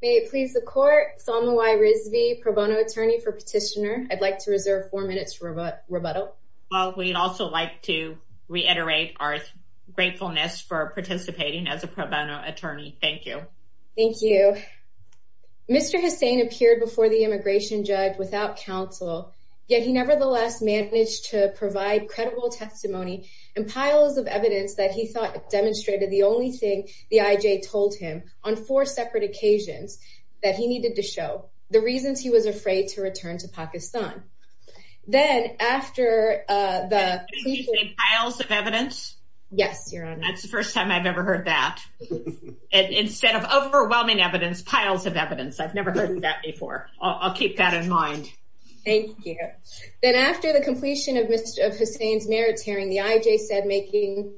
May it please the Court, Salma Y. Rizvi, Pro Bono Attorney for Petitioner. I'd like to reserve four minutes for rebuttal. Well, we'd also like to reiterate our gratefulness for participating as a pro bono attorney. Thank you. Thank you. Mr. Hussain appeared before the immigration judge without counsel, yet he nevertheless managed to provide credible testimony and piles of evidence that he thought demonstrated the only thing the IJ told him on four separate occasions that he needed to show the reasons he was afraid to return to Pakistan. Then after the piles of evidence. Yes, your honor. That's the first time I've ever heard that. Instead of overwhelming evidence, piles of evidence. I've never heard that before. I'll keep that in mind. Thank you. Then after the completion of Mr. Hussain's merits hearing, the IJ said making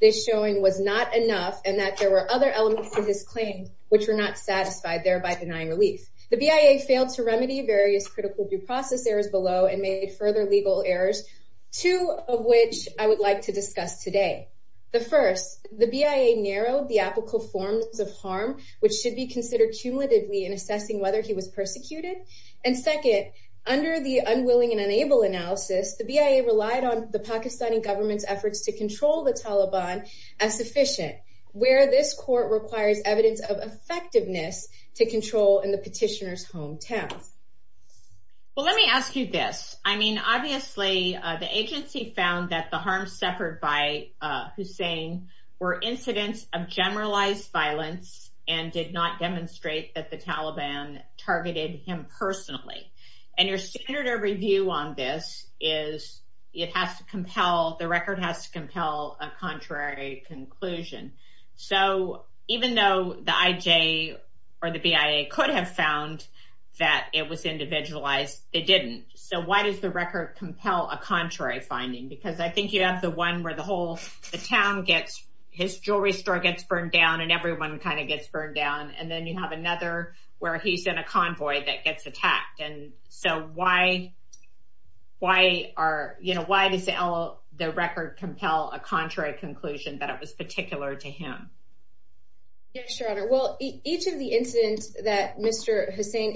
this showing was not enough and that there were other elements of his claim which were not satisfied, thereby denying relief. The BIA failed to remedy various critical due process errors below and made further legal errors, two of which I would like to discuss today. The first, the BIA narrowed the applicable forms of harm, which should be considered cumulatively in assessing whether he was persecuted. And second, under the unwilling and unable analysis, the BIA relied on the Pakistani government's efforts to control the Taliban as sufficient, where this court requires evidence of effectiveness to control in the petitioner's hometown. Well, let me ask you this. I mean, obviously the agency found that the harm suffered by Hussain were incidents of generalized violence and did not demonstrate that the Taliban targeted him personally. And your standard of review on this is it has to compel, the record has to compel a contrary conclusion. So even though the IJ or the BIA could have found that it was individualized, they didn't. So why does the record compel a contrary finding? Because I think you have the one where the whole town gets, his jewelry store gets burned down and everyone kind of gets burned down. And then you have another where he's in a convoy that gets attacked. And so why does the record compel a contrary conclusion that it was particular to him? Yes, Your Honor. Well, each of the incidents that Mr. Hussain,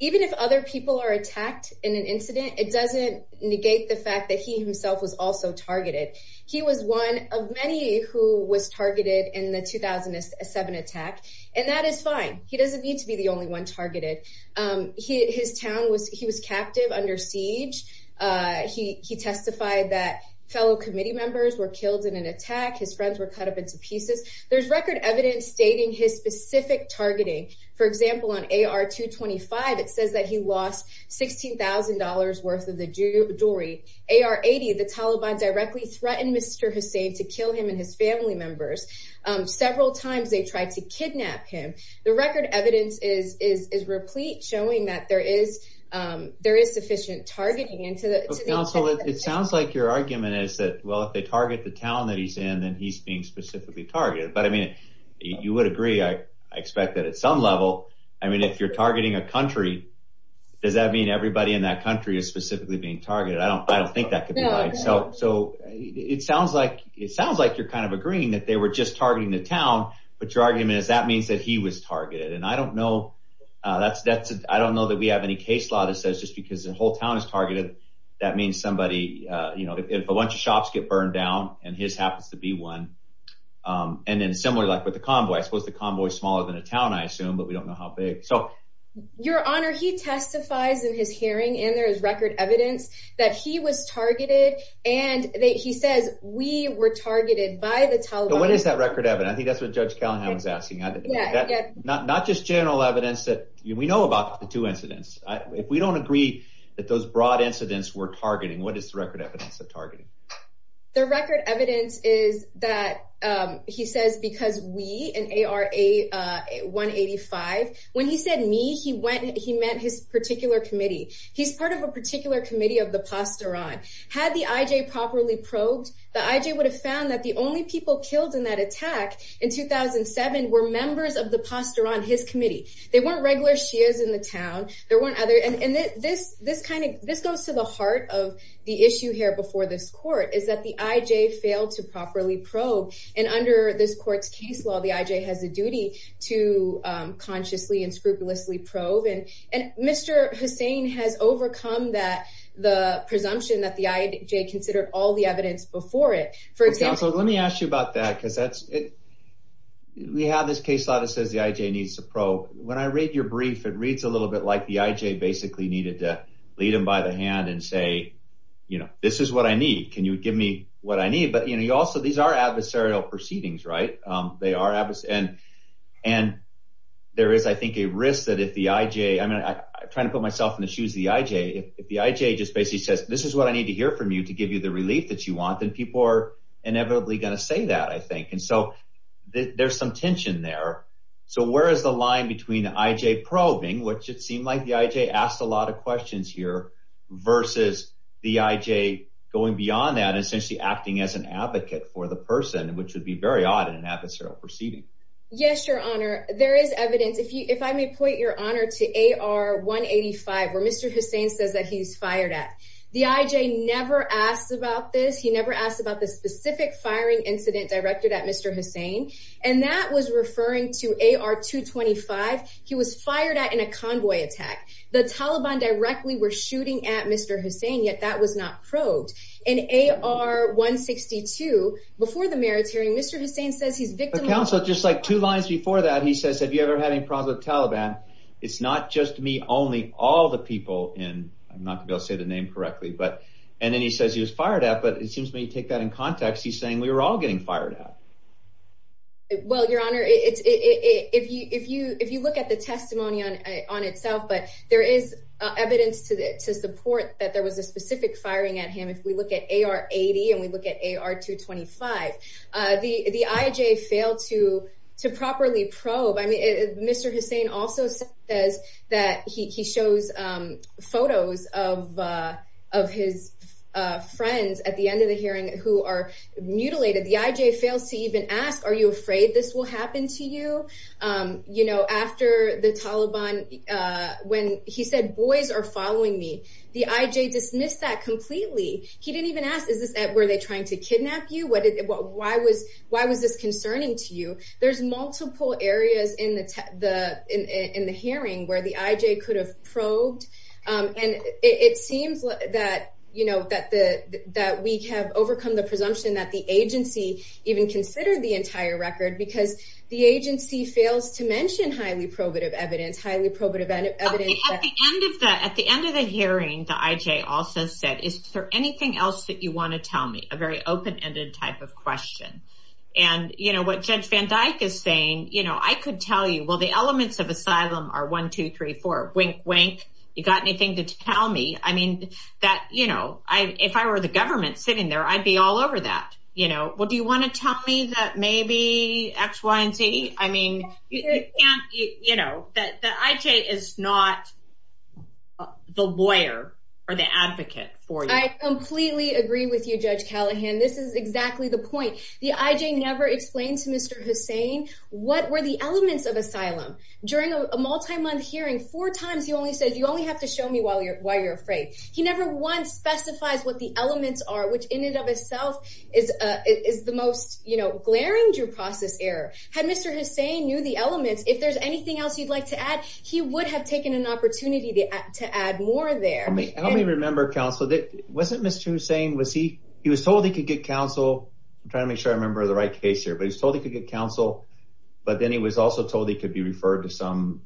even if other people are attacked in an incident, it doesn't negate the fact that he himself was also targeted. He was one of many who was targeted in the 2007 attack and that is fine. He doesn't need to be the only one targeted. His town was, he was captive under siege. He testified that fellow committee members were killed in an attack. His friends were cut up into pieces. There's record evidence stating his specific targeting. For example, on AR 225, it says that he lost $16,000 worth of the jewelry. AR 80, the Taliban directly threatened Mr. Hussain to kill him and his family members. Several times they tried to kidnap him. The record evidence is replete showing that there is sufficient targeting. Counsel, it sounds like your argument is that, well, if they target the town that he's in, then he's being specifically targeted. But I mean, you would agree, I expect that at some level. I mean, if you're targeting a country, does that mean everybody in that country is specifically being targeted? I don't, I don't think that could be right. So, so it sounds like, it sounds like you're kind of agreeing that they were just targeting the town, but your argument is that means that he was targeted. And I don't know. That's, that's, I don't know that we have any case law that says just because the whole town is targeted, that means somebody, you know, if a bunch of shops get burned down and his happens to be one. And then similarly, like with the convoy, I suppose the convoy is smaller than a town, I assume, but we don't know how big. So. Your Honor, he testifies in his hearing and there is record evidence that he was targeted and he says we were targeted by the Taliban. What is that record evidence? I think that's what Judge Callahan was asking. Not just general evidence that we know about the two incidents. If we don't agree that those broad incidents were targeting, what is the record evidence of targeting? The record evidence is that he says, because we, in ARA 185, when he said me, he went, he meant his particular committee. He's part of a particular committee of the Pasteran. Had the IJ properly probed, the IJ would have found that the only people killed in that attack in 2007 were members of the Pasteran, his committee. They weren't regular Shias in the town. There weren't other, and this, this kind of, this goes to the heart of the issue here before this court, is that the IJ failed to properly probe. And under this court's case law, the IJ has a duty to consciously and scrupulously probe. And, and Mr. Hussain has overcome that, the presumption that the IJ considered all the evidence before it. For example, let me ask you about that because that's it. We have this case law that says the IJ needs to probe. When I read your brief, it reads a little bit like the IJ basically needed to lead him by the hand and say, you know, this is what I need. Can you give me what I need? But you know, you also, these are adversarial proceedings, right? They are, and, and there is, I think, a risk that if the IJ, I mean, I'm trying to put myself in the shoes of the IJ. If the IJ just basically says, this is what I need to hear from you to give you the relief that you want, then people are inevitably going to say that, I think. And so there's some tension there. So where is the line between the IJ probing, which it seemed like the IJ asked a lot of questions here, versus the IJ going beyond that and essentially acting as an advocate for the person, which would be very odd in an adversarial proceeding. Yes, your honor. There is evidence. If you, if I may point your honor to AR-185, where Mr. Hussein says that he's fired at. The IJ never asked about this. He never asked about the specific firing incident directed at Mr. Hussein, and that was referring to AR-225. He was fired at in a convoy attack. The Taliban directly were shooting at Mr. Hussein, yet that was not probed. In AR-162, before the merits hearing, Mr. Hussein says he's victim of- But counsel, just like two lines before that, he says, have you ever had any problems with the Taliban? It's not just me, only all the people in, I'm not going to be able to say the name correctly, but, and then he says he was fired at, but it seems when you take that in context, he's saying we were all getting fired at. Well, your honor, if you look at the testimony on itself, but there is evidence to support that there was a specific firing at him. If we look at AR-80 and we look at AR-225, the IJ failed to properly probe. I mean, Mr. Hussein also says that he shows photos of his friends at the end of the hearing who are mutilated. The IJ fails to even ask, are you afraid this will happen to you? You know, after the Taliban, when he said, boys are following me, the IJ dismissed that completely. He didn't even ask, is this, were they trying to kidnap you? Why was this concerning to you? There's multiple areas in the hearing where the IJ could have probed. And it seems that, you know, that we have overcome the presumption that the agency even considered the entire record because the agency fails to mention highly probative evidence, highly probative evidence- At the end of the hearing, the IJ also said, is there anything else that you want to tell me? A very open-ended type of question. And, you know, what Judge Van Dyke is saying, you know, I could tell you, well, the elements of asylum are 1, 2, 3, 4, wink, wink. You got anything to tell me? I mean, that, you know, if I were the government sitting there, I'd be all over that. You know, well, do you want to tell me that maybe X, Y, and Z? I mean, you can't, you know, the IJ is not the lawyer or the advocate for you. I completely agree with you, Judge Callahan. This is exactly the point. The IJ never explained to Mr. Hussain what were the elements of asylum. During a multi-month hearing, four times, he only said, you only have to show me why you're afraid. He never once specifies what the elements are, which in and of itself is the most, you know, glaring due process error. Had Mr. Hussain knew the elements, if there's anything else you'd like to add, he would have taken an opportunity to add more there. Let me remember, counsel, wasn't Mr. Hussain, was he, he was told he could get counsel. I'm trying to make sure I remember the right case here, but he was told he could get counsel, but then he was also told he could be referred to some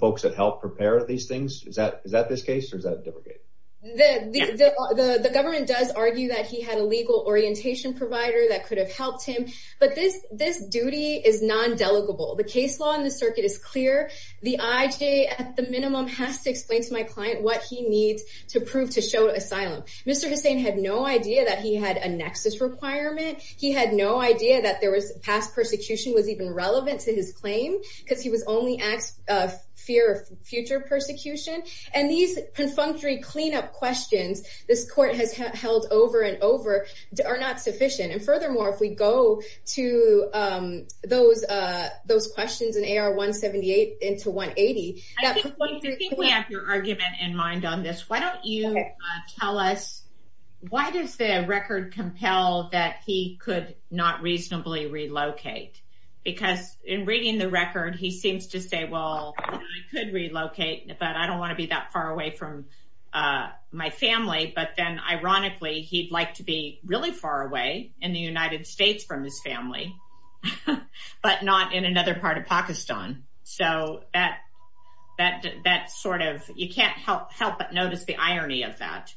folks that help prepare these things. Is that this case or is that a different case? The government does argue that he had a legal orientation provider that could have helped him, but this duty is non-delegable. The case law in the circuit is clear. The IJ, at the minimum, has to explain to my client what he needs to prove to show asylum. Mr. Hussain had no idea that he had a nexus requirement. He had no idea that there was past persecution was even relevant to his claim because he was only asked of fear of future persecution. And these perfunctory cleanup questions this court has held over and over are not sufficient. And furthermore, if we go to those questions in AR 178 into 180. I think we have your argument in mind on this. Why don't you tell us, why does the record compel that he could not reasonably relocate? Because in reading the record, he seems to say, well, I could relocate, but I don't want to be that far away from my family. But then ironically, he'd like to be really far away in the United States from his family, but not in another part of Pakistan. So that sort of, you can't help but notice the irony of that.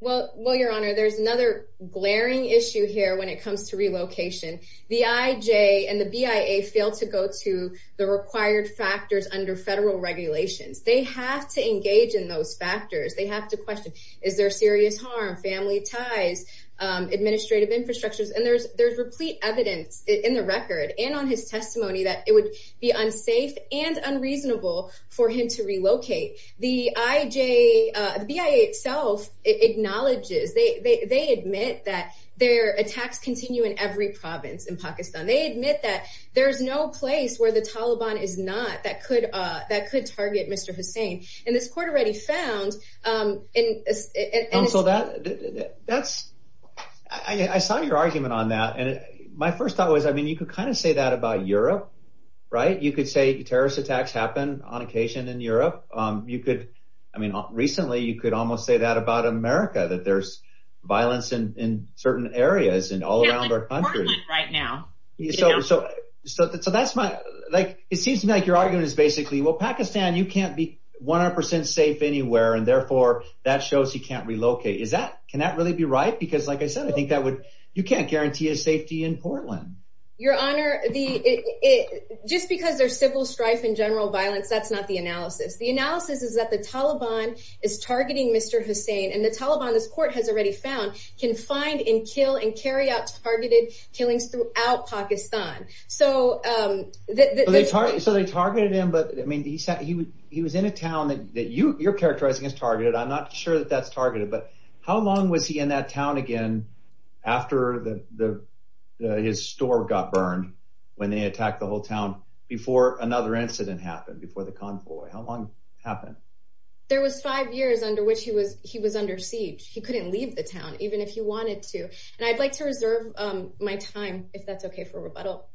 Well, your honor, there's another glaring issue here when it comes to relocation. The IJ and the BIA fail to go to the required factors under federal regulations. They have to engage in those factors. They have to question, is there serious harm, family ties, administrative infrastructures? And there's there's replete evidence in the record and on his testimony that it would be unsafe and unreasonable for him to relocate. The IJ, the BIA itself acknowledges, they admit that their attacks continue in every province in Pakistan. They admit that there's no place where the Taliban is not that could target Mr. Hussein. And this court already found. So that's I saw your argument on that. And my first thought was, I mean, you could kind of say that about Europe, right? You could say terrorist attacks happen on occasion in Europe. You could. I mean, recently, you could almost say that about America, that there's violence in certain areas and all around our country right now. So so that's my like, it seems to me like your argument is basically, well, Pakistan, you can't be 100 percent safe anywhere and therefore that shows you can't relocate. Is that can that really be right? Because like I said, I think that would you can't guarantee a safety in Portland. Your Honor, the it just because there's civil strife and general violence. That's not the analysis. The analysis is that the Taliban is targeting Mr. Hussein. And the Taliban, this court has already found, can find and kill and carry out targeted killings throughout Pakistan. So they target so they targeted him. But I mean, he said he would he was in a town that you you're characterizing as targeted. I'm not sure that that's targeted, but how long was he in that town again after the his store got burned when they attacked the whole town before another incident happened before the convoy? How long happened? There was five years under which he was he was under siege. He couldn't leave the town even if he wanted to and I'd like to reserve my time. If that's okay for rebuttal.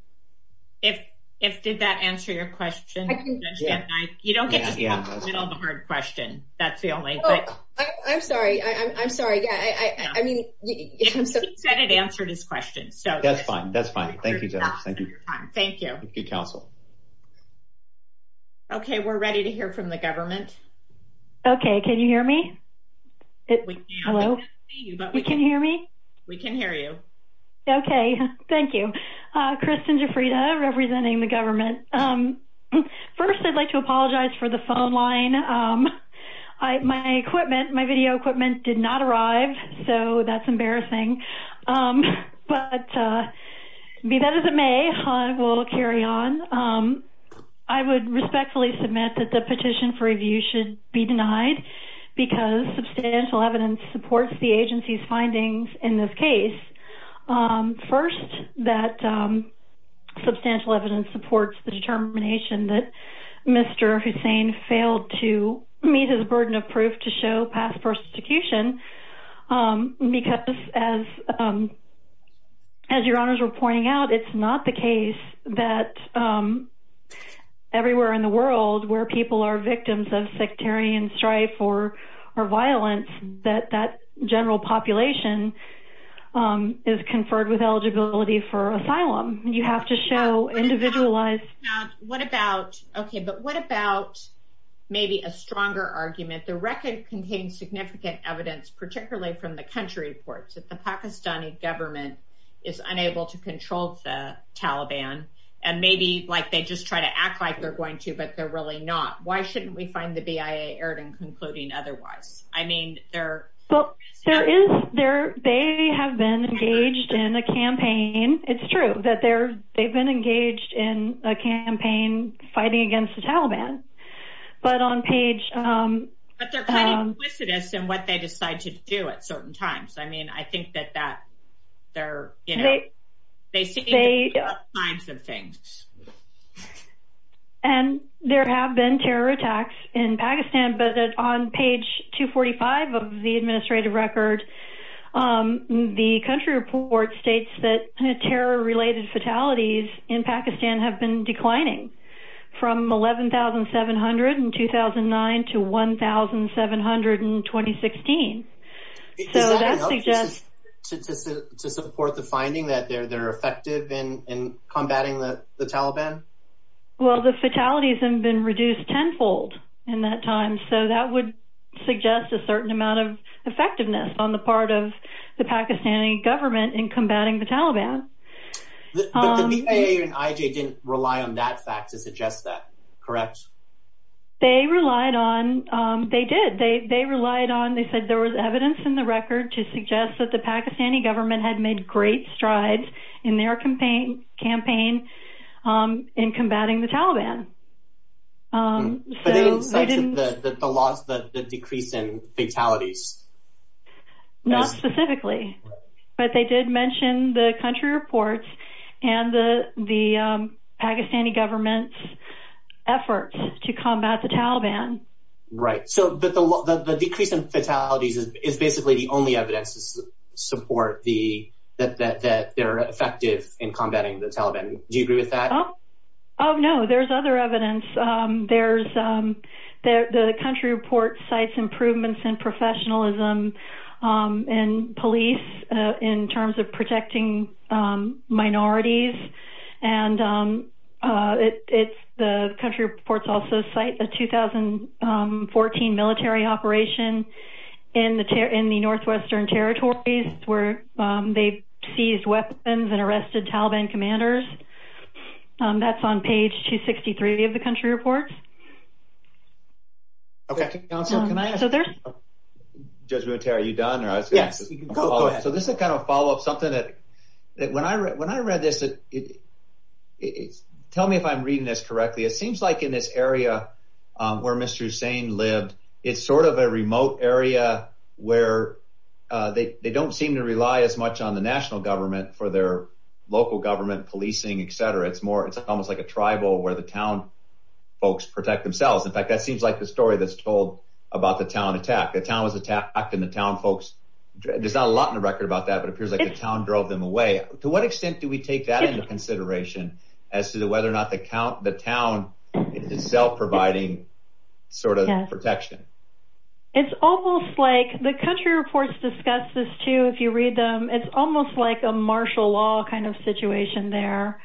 If if did that answer your question? I can judge that night. You don't get the hard question. That's the only thing. I'm sorry. I'm sorry. Yeah, I mean, I'm so excited to answer this question. So that's fine. That's fine. Thank you. Thank you. Thank you counsel. Okay, we're ready to hear from the government. Okay. Can you hear me? Hello, but we can hear me. We can hear you. Okay. Thank you. Kristen Jafrita representing the government first. I'd like to apologize for the phone line. My equipment my video equipment did not arrive. So that's embarrassing but be that as it may I will carry on. I would respectfully submit that the petition for review should be denied because substantial evidence supports the agency's findings in this case first that substantial evidence supports the determination that Mr. Hussein failed to meet his burden of proof to show past persecution because as as your honors were pointing out, it's not the case that everywhere in the world where people are victims of sectarian strife or violence that that general population is conferred with eligibility for asylum. You have to show individualized what about okay, but what about maybe a stronger argument the record contains significant evidence, particularly from the country reports that the Pakistani government is unable to control the Taliban and maybe like they just try to act like they're going to but they're really not why shouldn't we find the BIA aired and concluding? Otherwise, I mean, they're well, there is there they have been engaged in a campaign. It's true that they're they've been engaged in a campaign fighting against the Taliban, but on page but they're kind of quick to this and what they decide to do at certain times. I mean, I think that that they're you know, they see a times of things and there have been terror attacks in Pakistan, but on page 245 of the administrative record the country report states that a terror related fatalities in Pakistan have been declining from 11,700 in 2009 to 1,700 in 2016. So that suggests to support the finding that they're they're effective in combating the Taliban. Well, the fatalities have been reduced tenfold in that time. So that would suggest a certain amount of effectiveness on the part of the Pakistani government in combating the Taliban. The BIA and IJ didn't rely on that fact to suggest that correct? They relied on they did they they relied on they said there was evidence in the record to suggest that the Pakistani government had made great strides in their campaign campaign in combating the Taliban. So they didn't the loss that the decrease in fatalities not specifically, but they did mention the country reports and the the Pakistani government's efforts to combat the Taliban, right? So but the decrease in fatalities is basically the only evidence to support the that they're effective in combating the Taliban. Do you agree with that? Oh, no, there's other evidence. There's the country report sites improvements in professionalism and police in terms of protecting minorities and it's the country reports also cite the 2014 military operation in the tear in the Northwestern Territories where they seized weapons and arrested Taliban commanders. That's on page 263 of the country reports. Okay, so there's judgment. Are you done? Yes, so this is kind of follow-up something that when I read when I read this it is tell me if I'm reading this correctly. It seems like in this area where Mr. Usain lived. It's sort of a remote area where they don't seem to rely as much on the national government for their local government policing Etc. It's more. It's almost like a tribal where the town folks protect themselves. In fact, that seems like the story that's told about the town attack. The town was attacked in the town folks. There's not a lot in the record about that, but it appears like the town drove them away to what extent do we take that into consideration as to the whether or not the count the town itself providing sort of protection. It's almost like the country reports discuss this too. If you read them, it's almost like a martial law kind of situation there.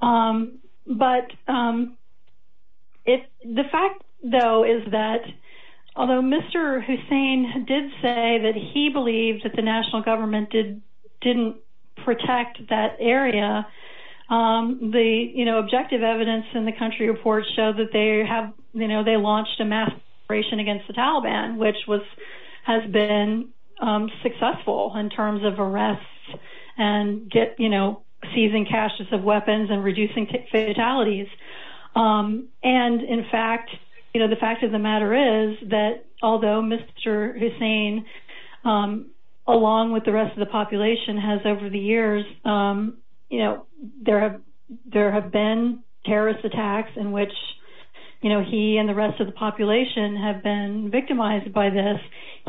But if the fact though is that although Mr. Hussein did say that he believed that the national government did didn't protect that area the you know, objective evidence in the country reports show that they have, you know, they launched a mass operation against the Taliban, which was has been successful in terms of arrests and get you know, seizing caches of weapons and reducing fatalities and in fact, you know, the fact of the matter is that although Mr. Hussein along with the rest of the population has over the years, you know, there have there have been terrorist attacks in which, you know, he and the rest of the population have been victimized by this.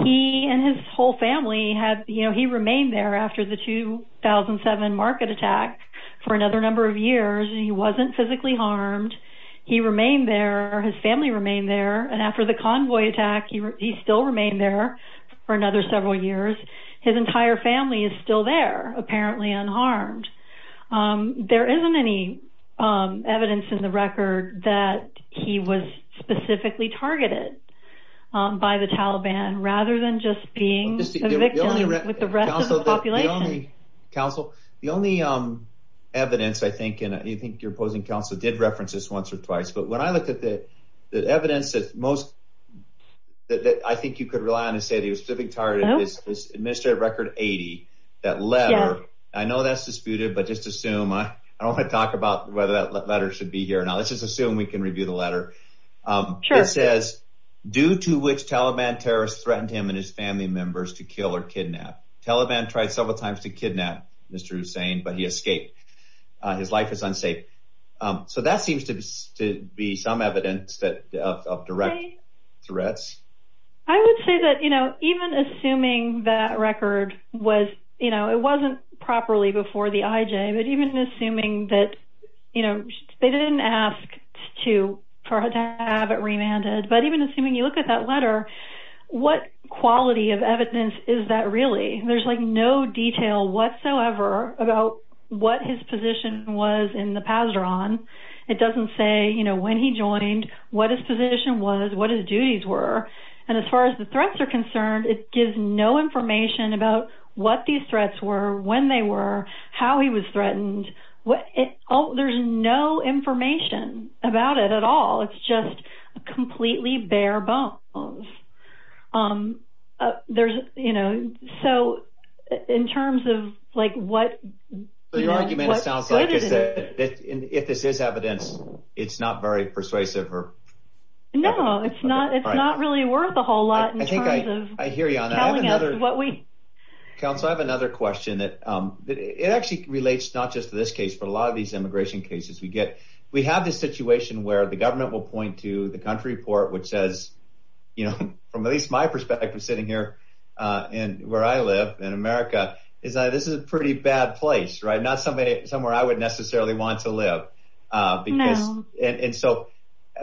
He and his whole family had, you know, he remained there after the 2007 market attack for another number of years and he wasn't physically harmed. He remained there. His family remained there. And after the convoy attack, he still remained there for another several years. His entire family is still there, apparently unharmed. There isn't any evidence in the record that he was specifically targeted by the Taliban rather than just being a victim with the rest of the population. Counsel, the only evidence I think and I think your opposing counsel did most that I think you could rely on to say that he was specifically targeted is administrative record 80. That letter, I know that's disputed, but just assume I don't want to talk about whether that letter should be here. Now, let's just assume we can review the letter. It says due to which Taliban terrorists threatened him and his family members to kill or kidnap. Taliban tried several times to kidnap Mr. Hussein, but he escaped. His life is unsafe. So that seems to be some evidence that of direct threats. I would say that, you know, even assuming that record was, you know, it wasn't properly before the IJ, but even assuming that, you know, they didn't ask to have it remanded. But even assuming you look at that letter, what quality of evidence is that really? There's like no detail whatsoever about what his position was in the past are on. It doesn't say, you know, when he joined, what his position was, what his duties were. And as far as the threats are concerned, it gives no information about what these threats were, when they were, how he was threatened. What? Oh, there's no information about it at all. It's just completely bare bones. There's, you know, so in terms of like what your argument sounds like is that if this is evidence, it's not very persuasive or no, it's not. It's not really worth a whole lot. And I think I hear you. I'm telling you what we can. So I have another question that it actually relates not just to this case, but a lot of these immigration cases we get. We have this situation where the government will point to the country port, which says, you know, from at least my perspective, sitting here and where I live in America is that this is a pretty bad place, right? Not somebody somewhere I would necessarily want to live because and so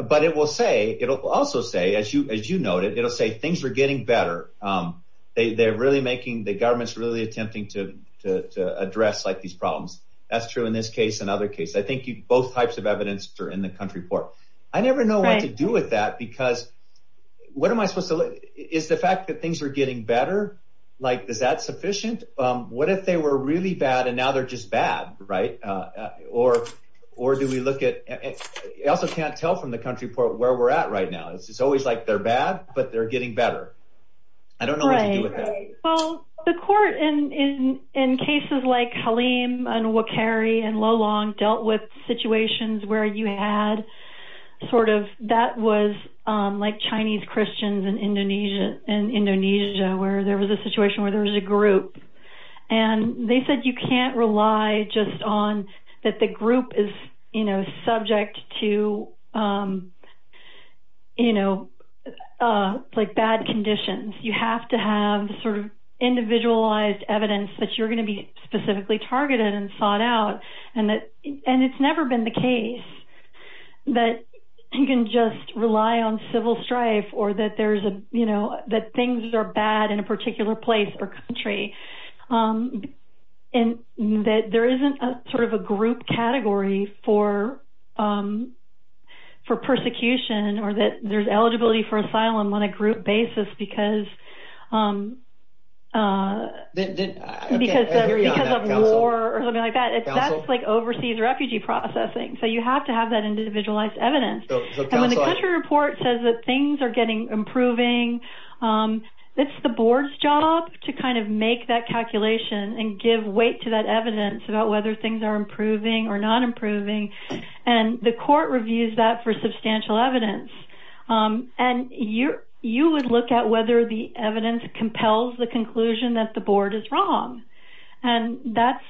but it will say it'll also say as you as you noted, it'll say things are getting better. They're really making the government's really attempting to address like these problems. That's true in this case. Another case. I think you both types of evidence are in the country port. I never know what to do with that because what am I supposed to is the fact that things are getting better? Like is that sufficient? What if they were really bad? And now they're just bad, right? Or or do we look at it also can't tell from the country port where we're at right now. It's always like they're bad, but they're getting better. I don't know what to do with that. Well, the court in in in cases like Halim and will carry and low long dealt with situations where you had sort of that was like Chinese Christians in Indonesia and Indonesia where there was a situation where there was a group and they said you can't rely just on that. The group is, you know subject to you know, like bad conditions. You have to have sort of individualized evidence that you're going to be specifically targeted and sought out and that and it's never been the case that you can just rely on civil strife or that there's a you know, that things are bad in a particular place or country. Um, and that there isn't a sort of a group category for for persecution or that there's eligibility for asylum on a group basis because because of war or something like that. It's that's like overseas refugee processing. So you have to have that individualized evidence and when the country report says that things are getting improving. It's the board's job to kind of make that calculation and give weight to that evidence about whether things are improving or not improving and the court reviews that for substantial evidence and you you would look at whether the evidence compels the conclusion that the board is wrong. And that's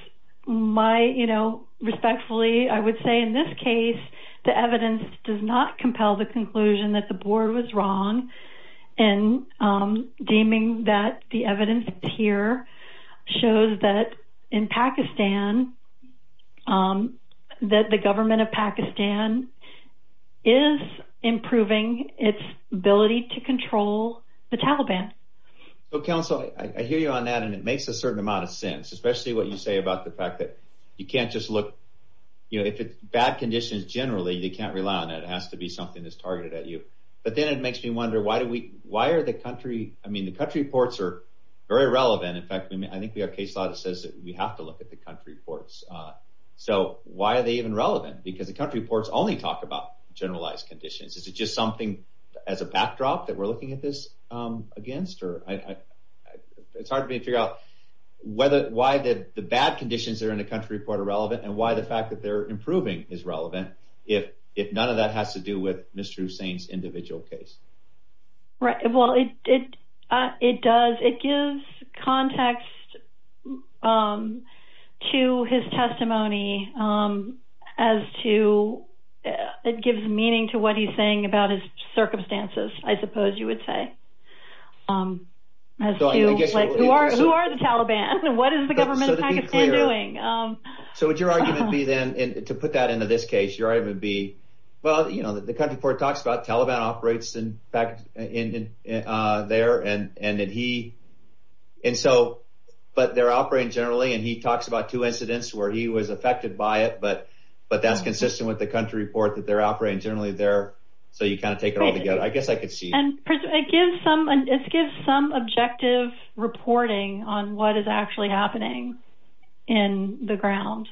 my you know, respectfully. I would say in this case the evidence does not compel the conclusion that the board was wrong and deeming that the evidence here shows that in Pakistan that the government of Pakistan is improving its ability to control the Taliban. So counsel, I hear you on that and it makes a certain amount of sense, especially what you say about the fact that you can't just look, you know, if it's bad conditions, generally they can't rely on it. It has to be something that's targeted at you. But then it makes me wonder why do we, why are the country, I mean the country reports are very relevant. In fact, I think we have a case law that says that we have to look at the country reports. So why are they even relevant? Because the country reports only talk about generalized conditions. Is it just something as a backdrop that we're looking at this against or I, it's hard for me to figure out whether, why the bad conditions are in the country report are relevant and why the fact that they're improving is in the individual case, right? Well, it, it, it does. It gives context to his testimony as to, it gives meaning to what he's saying about his circumstances. I suppose you would say, who are the Taliban? What is the government of Pakistan doing? So would your argument be then, to put that into this case, your argument would be, well, you know, the country report talks about Taliban operates in fact, in there and, and that he, and so, but they're operating generally and he talks about two incidents where he was affected by it, but, but that's consistent with the country report that they're operating generally there. So you kind of take it all together. I guess I could see. And it gives some, it gives some objective reporting on what is actually happening in the ground.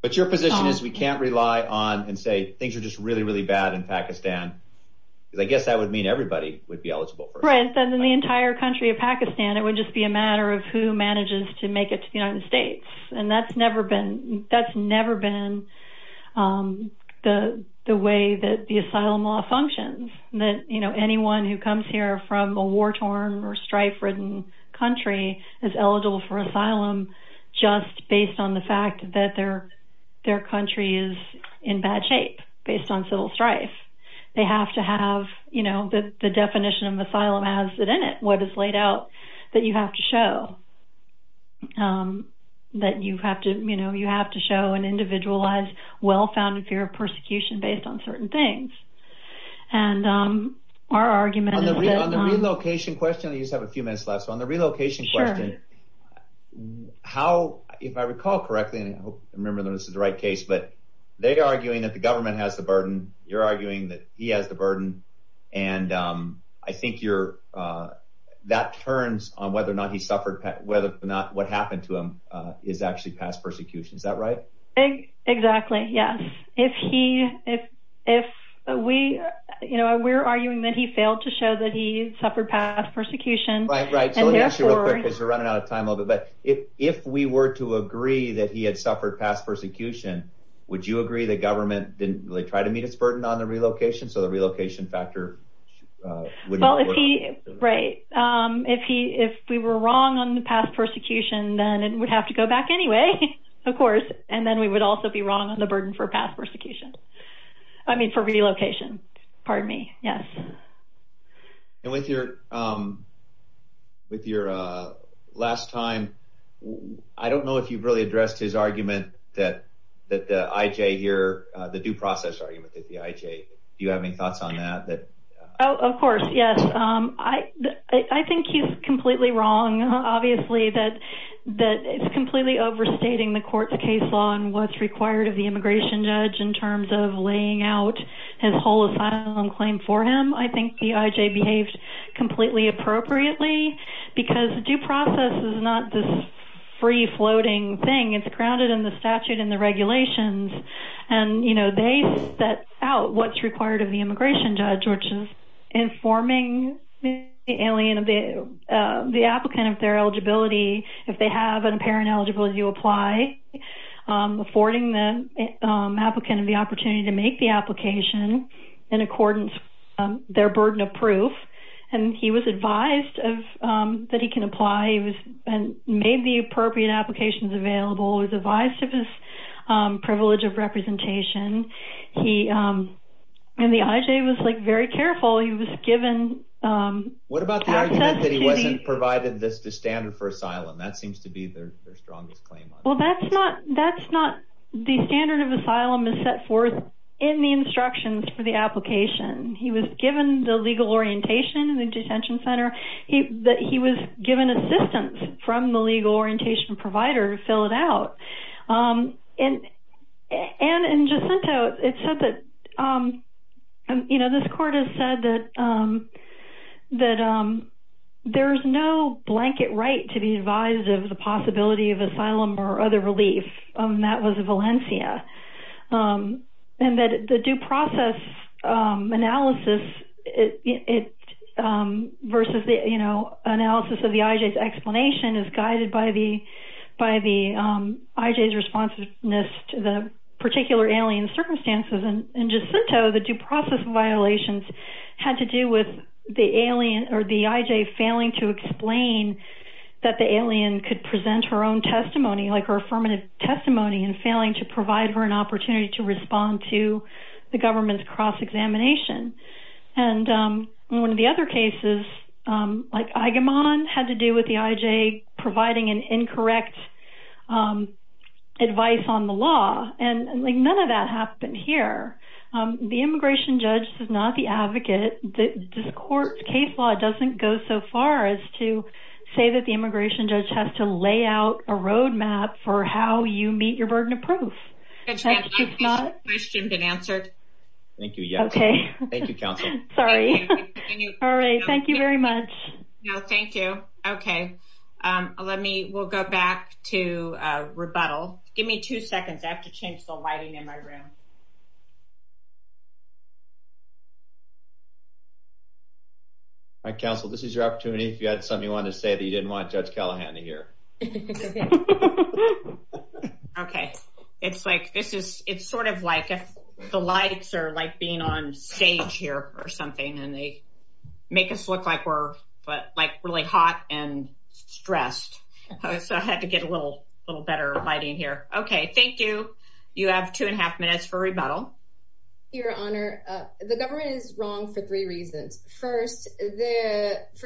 But your position is we can't rely on and say things are just really, really bad in Pakistan, because I guess that would mean everybody would be eligible. Right. Then the entire country of Pakistan, it would just be a matter of who manages to make it to the United States. And that's never been, that's never been the, the way that the asylum law functions that, you know, anyone who comes here from a war-torn or strife ridden country is eligible for asylum. Just based on the fact that their, their country is in bad shape based on civil strife, they have to have, you know, the definition of asylum has it in it, what is laid out that you have to show that you have to, you know, you have to show an individualized, well-founded fear of persecution based on certain things. And our argument on the relocation question, I just have a few minutes left on the relocation question. How, if I recall correctly, and I hope I remember that this is the right case, but they are arguing that the government has the burden. You're arguing that he has the burden. And I think you're, that turns on whether or not he suffered, whether or not what happened to him is actually past persecution. Is that right? Exactly. Yes. If he, if, if we, you know, we're arguing that he failed to show that he suffered past persecution. Right. Right. So let me ask you real quick, because we're running out of time a little bit, but if, if we were to agree that he had suffered past persecution, would you agree that government didn't really try to meet its burden on the relocation? So the relocation factor. Well, if he, right. If he, if we were wrong on the past persecution, then it would have to go back anyway, of course. And then we would also be wrong on the burden for past persecution. I mean, for relocation, pardon me. Yes. And with your, with your last time, I don't know if you've really addressed his argument that, that the IJ here, the due process argument that the IJ, do you have any thoughts on that? Oh, of course. Yes. I, I think he's completely wrong. Obviously that, that it's completely overstating the court, the case law and what's required of the immigration judge in terms of laying out his whole asylum claim for him. I think the IJ behaved completely appropriately because due process is not this free floating thing. It's grounded in the statute and the regulations. And, you know, they set out what's required of the immigration judge, informing the applicant of their eligibility. If they have an apparent eligibility to apply, affording the applicant of the opportunity to make the application in accordance with their burden of proof, and he was advised that he can apply and made the appropriate applications available. He was advised of his privilege of representation. He, and the IJ was like very careful. He was given. What about the argument that he wasn't provided the standard for asylum? That seems to be their strongest claim. Well, that's not, that's not the standard of asylum is set forth in the instructions for the application. He was given the legal orientation in the detention center. He, that he was given assistance from the legal orientation provider to fill it out. And, and in Jacinto, it said that, you know, this court has said that, that there's no blanket right to be advised of the possibility of asylum or other relief. And that was Valencia. And that the due process analysis, it versus the, you know, analysis of the IJ's explanation is guided by the, by the IJ's responsiveness to the particular alien circumstances. And in Jacinto, the due process violations had to do with the alien or the IJ failing to explain that the alien could present her own testimony, like her affirmative testimony and failing to provide her an opportunity to respond to the government's cross-examination. And one of the other cases, like Agamon had to do with the IJ providing an incorrect advice on the law. And like, none of that happened here. The immigration judge is not the advocate. The court case law doesn't go so far as to say that the immigration judge has to lay out a roadmap for how you meet your burden of proof. Judge Callahan, has your question been answered? Thank you. Yeah. Okay. Thank you, counsel. Sorry. All right. Thank you very much. No, thank you. Okay. Let me, we'll go back to rebuttal. Give me two seconds. I have to change the lighting in my room. All right, counsel, this is your opportunity. If you had something you wanted to say that you didn't want Judge Callahan to hear. Okay. It's like, this is, it's sort of like if the lights are like being on stage here or something, and they make us look like we're, like really hot and stressed. So I had to get a little, little better lighting here. Okay. Thank you. You have two and a half minutes for rebuttal. Your honor, the government is wrong for three reasons. First,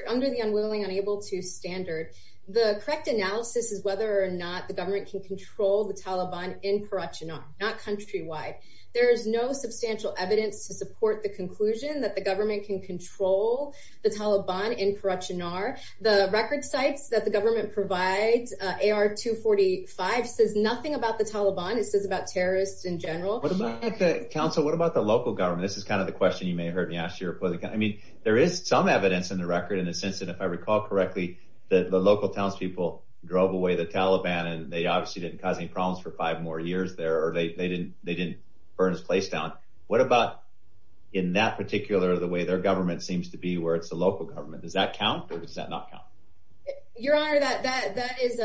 under the unwilling, unable to standard, the correct analysis is whether or not the government can control the Taliban in Karachi, not countrywide. There is no substantial evidence to support the conclusion that the government can control the Taliban in Karachi. Nar the record sites that the government provides ar-245 says nothing about the Taliban. It says about terrorists in general. What about the council? What about the local government? This is kind of the question you may have heard me ask your political. I mean, there is some evidence in the record in a sense that if I recall correctly, the local townspeople drove away the Taliban and they obviously didn't cause any problems for five more years there or they didn't burn his place down. What about in that particular the way their government seems to be where it's a local government? Does that count or does that not count? Your honor, that is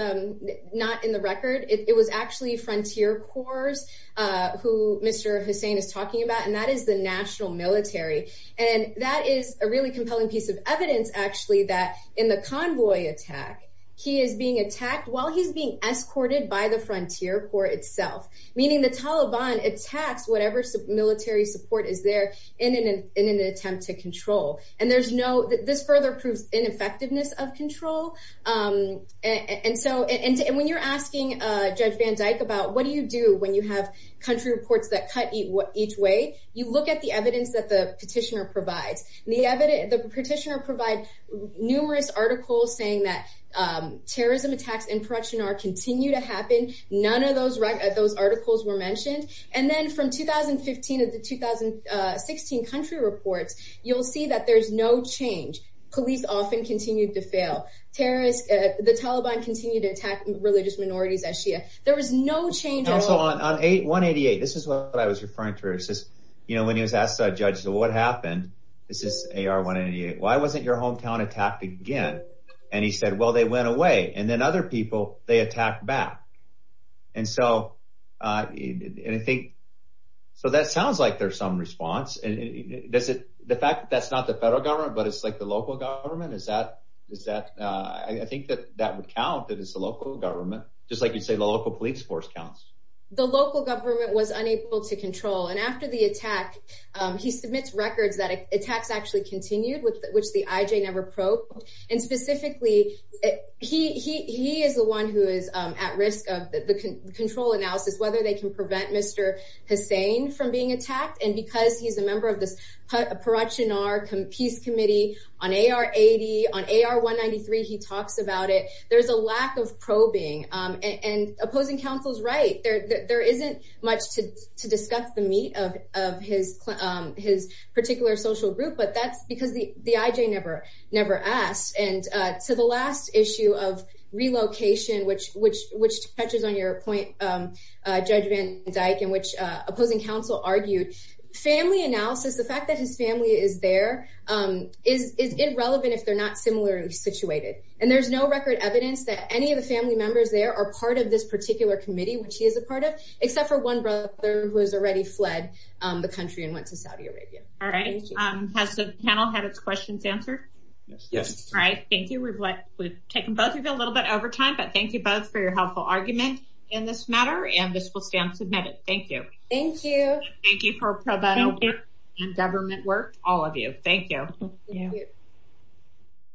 not in the record. It was actually frontier corps who Mr. Hussein is talking about and that is the national military and that is a really compelling piece of evidence actually that in the convoy attack. He is being attacked while he's being escorted by the frontier corps itself, meaning the Taliban attacks, whatever military support is there in an in an attempt to control and there's no that this further proves ineffectiveness of control and so and when you're asking Judge Van Dyke about what do you do when you have country reports that cut eat what each way you look at the evidence that the petitioner provides the evidence the petitioner provide numerous articles saying that terrorism attacks in production are continue to happen. None of those right at those articles were mentioned and then from 2015 of the 2016 country reports. You'll see that there's no change police often continued to fail terrorist the Taliban continue to attack religious minorities as Shia. There was no change also on 8188. This is what I was referring to. You know when he was asked a judge. So what happened? This is AR 188. Why wasn't your hometown attacked again? And he said well they went away and then other people they attacked back and so I think so that sounds like there's some response and does it the fact that that's not the federal government, but it's like the local government is that is that I think that that would count that it's the local government just like you say the local police force counts the local government was unable to control and after the attack he submits records that attacks actually continued with which the IJ never probed and specifically it he is the one who is at risk of the control analysis whether they can prevent Mr. Hussain from being attacked and because he's a member of this production our Peace Committee on AR 80 on AR 193. He talks about it. There's a lack of probing and opposing councils, right there there isn't much to discuss the meat of his his particular social group, but that's because the the IJ never never asked and to the last issue of relocation which which which touches on your point Judge Van Dyke in which opposing Council argued family analysis the fact that his family is there is irrelevant if they're not similarly situated and there's no record evidence that any of the family members there are part of this particular committee which he is a part of except for one brother who has already fled the country and went to Saudi Arabia. All right. Has the panel had its questions answered? Yes. All right. Thank you. We've like we've taken both of you a little bit over time, but thank you both for your helpful argument in this matter and this will stand submitted. Thank you. Thank you. Thank you for pro bono government work all of you. Thank you. Yeah.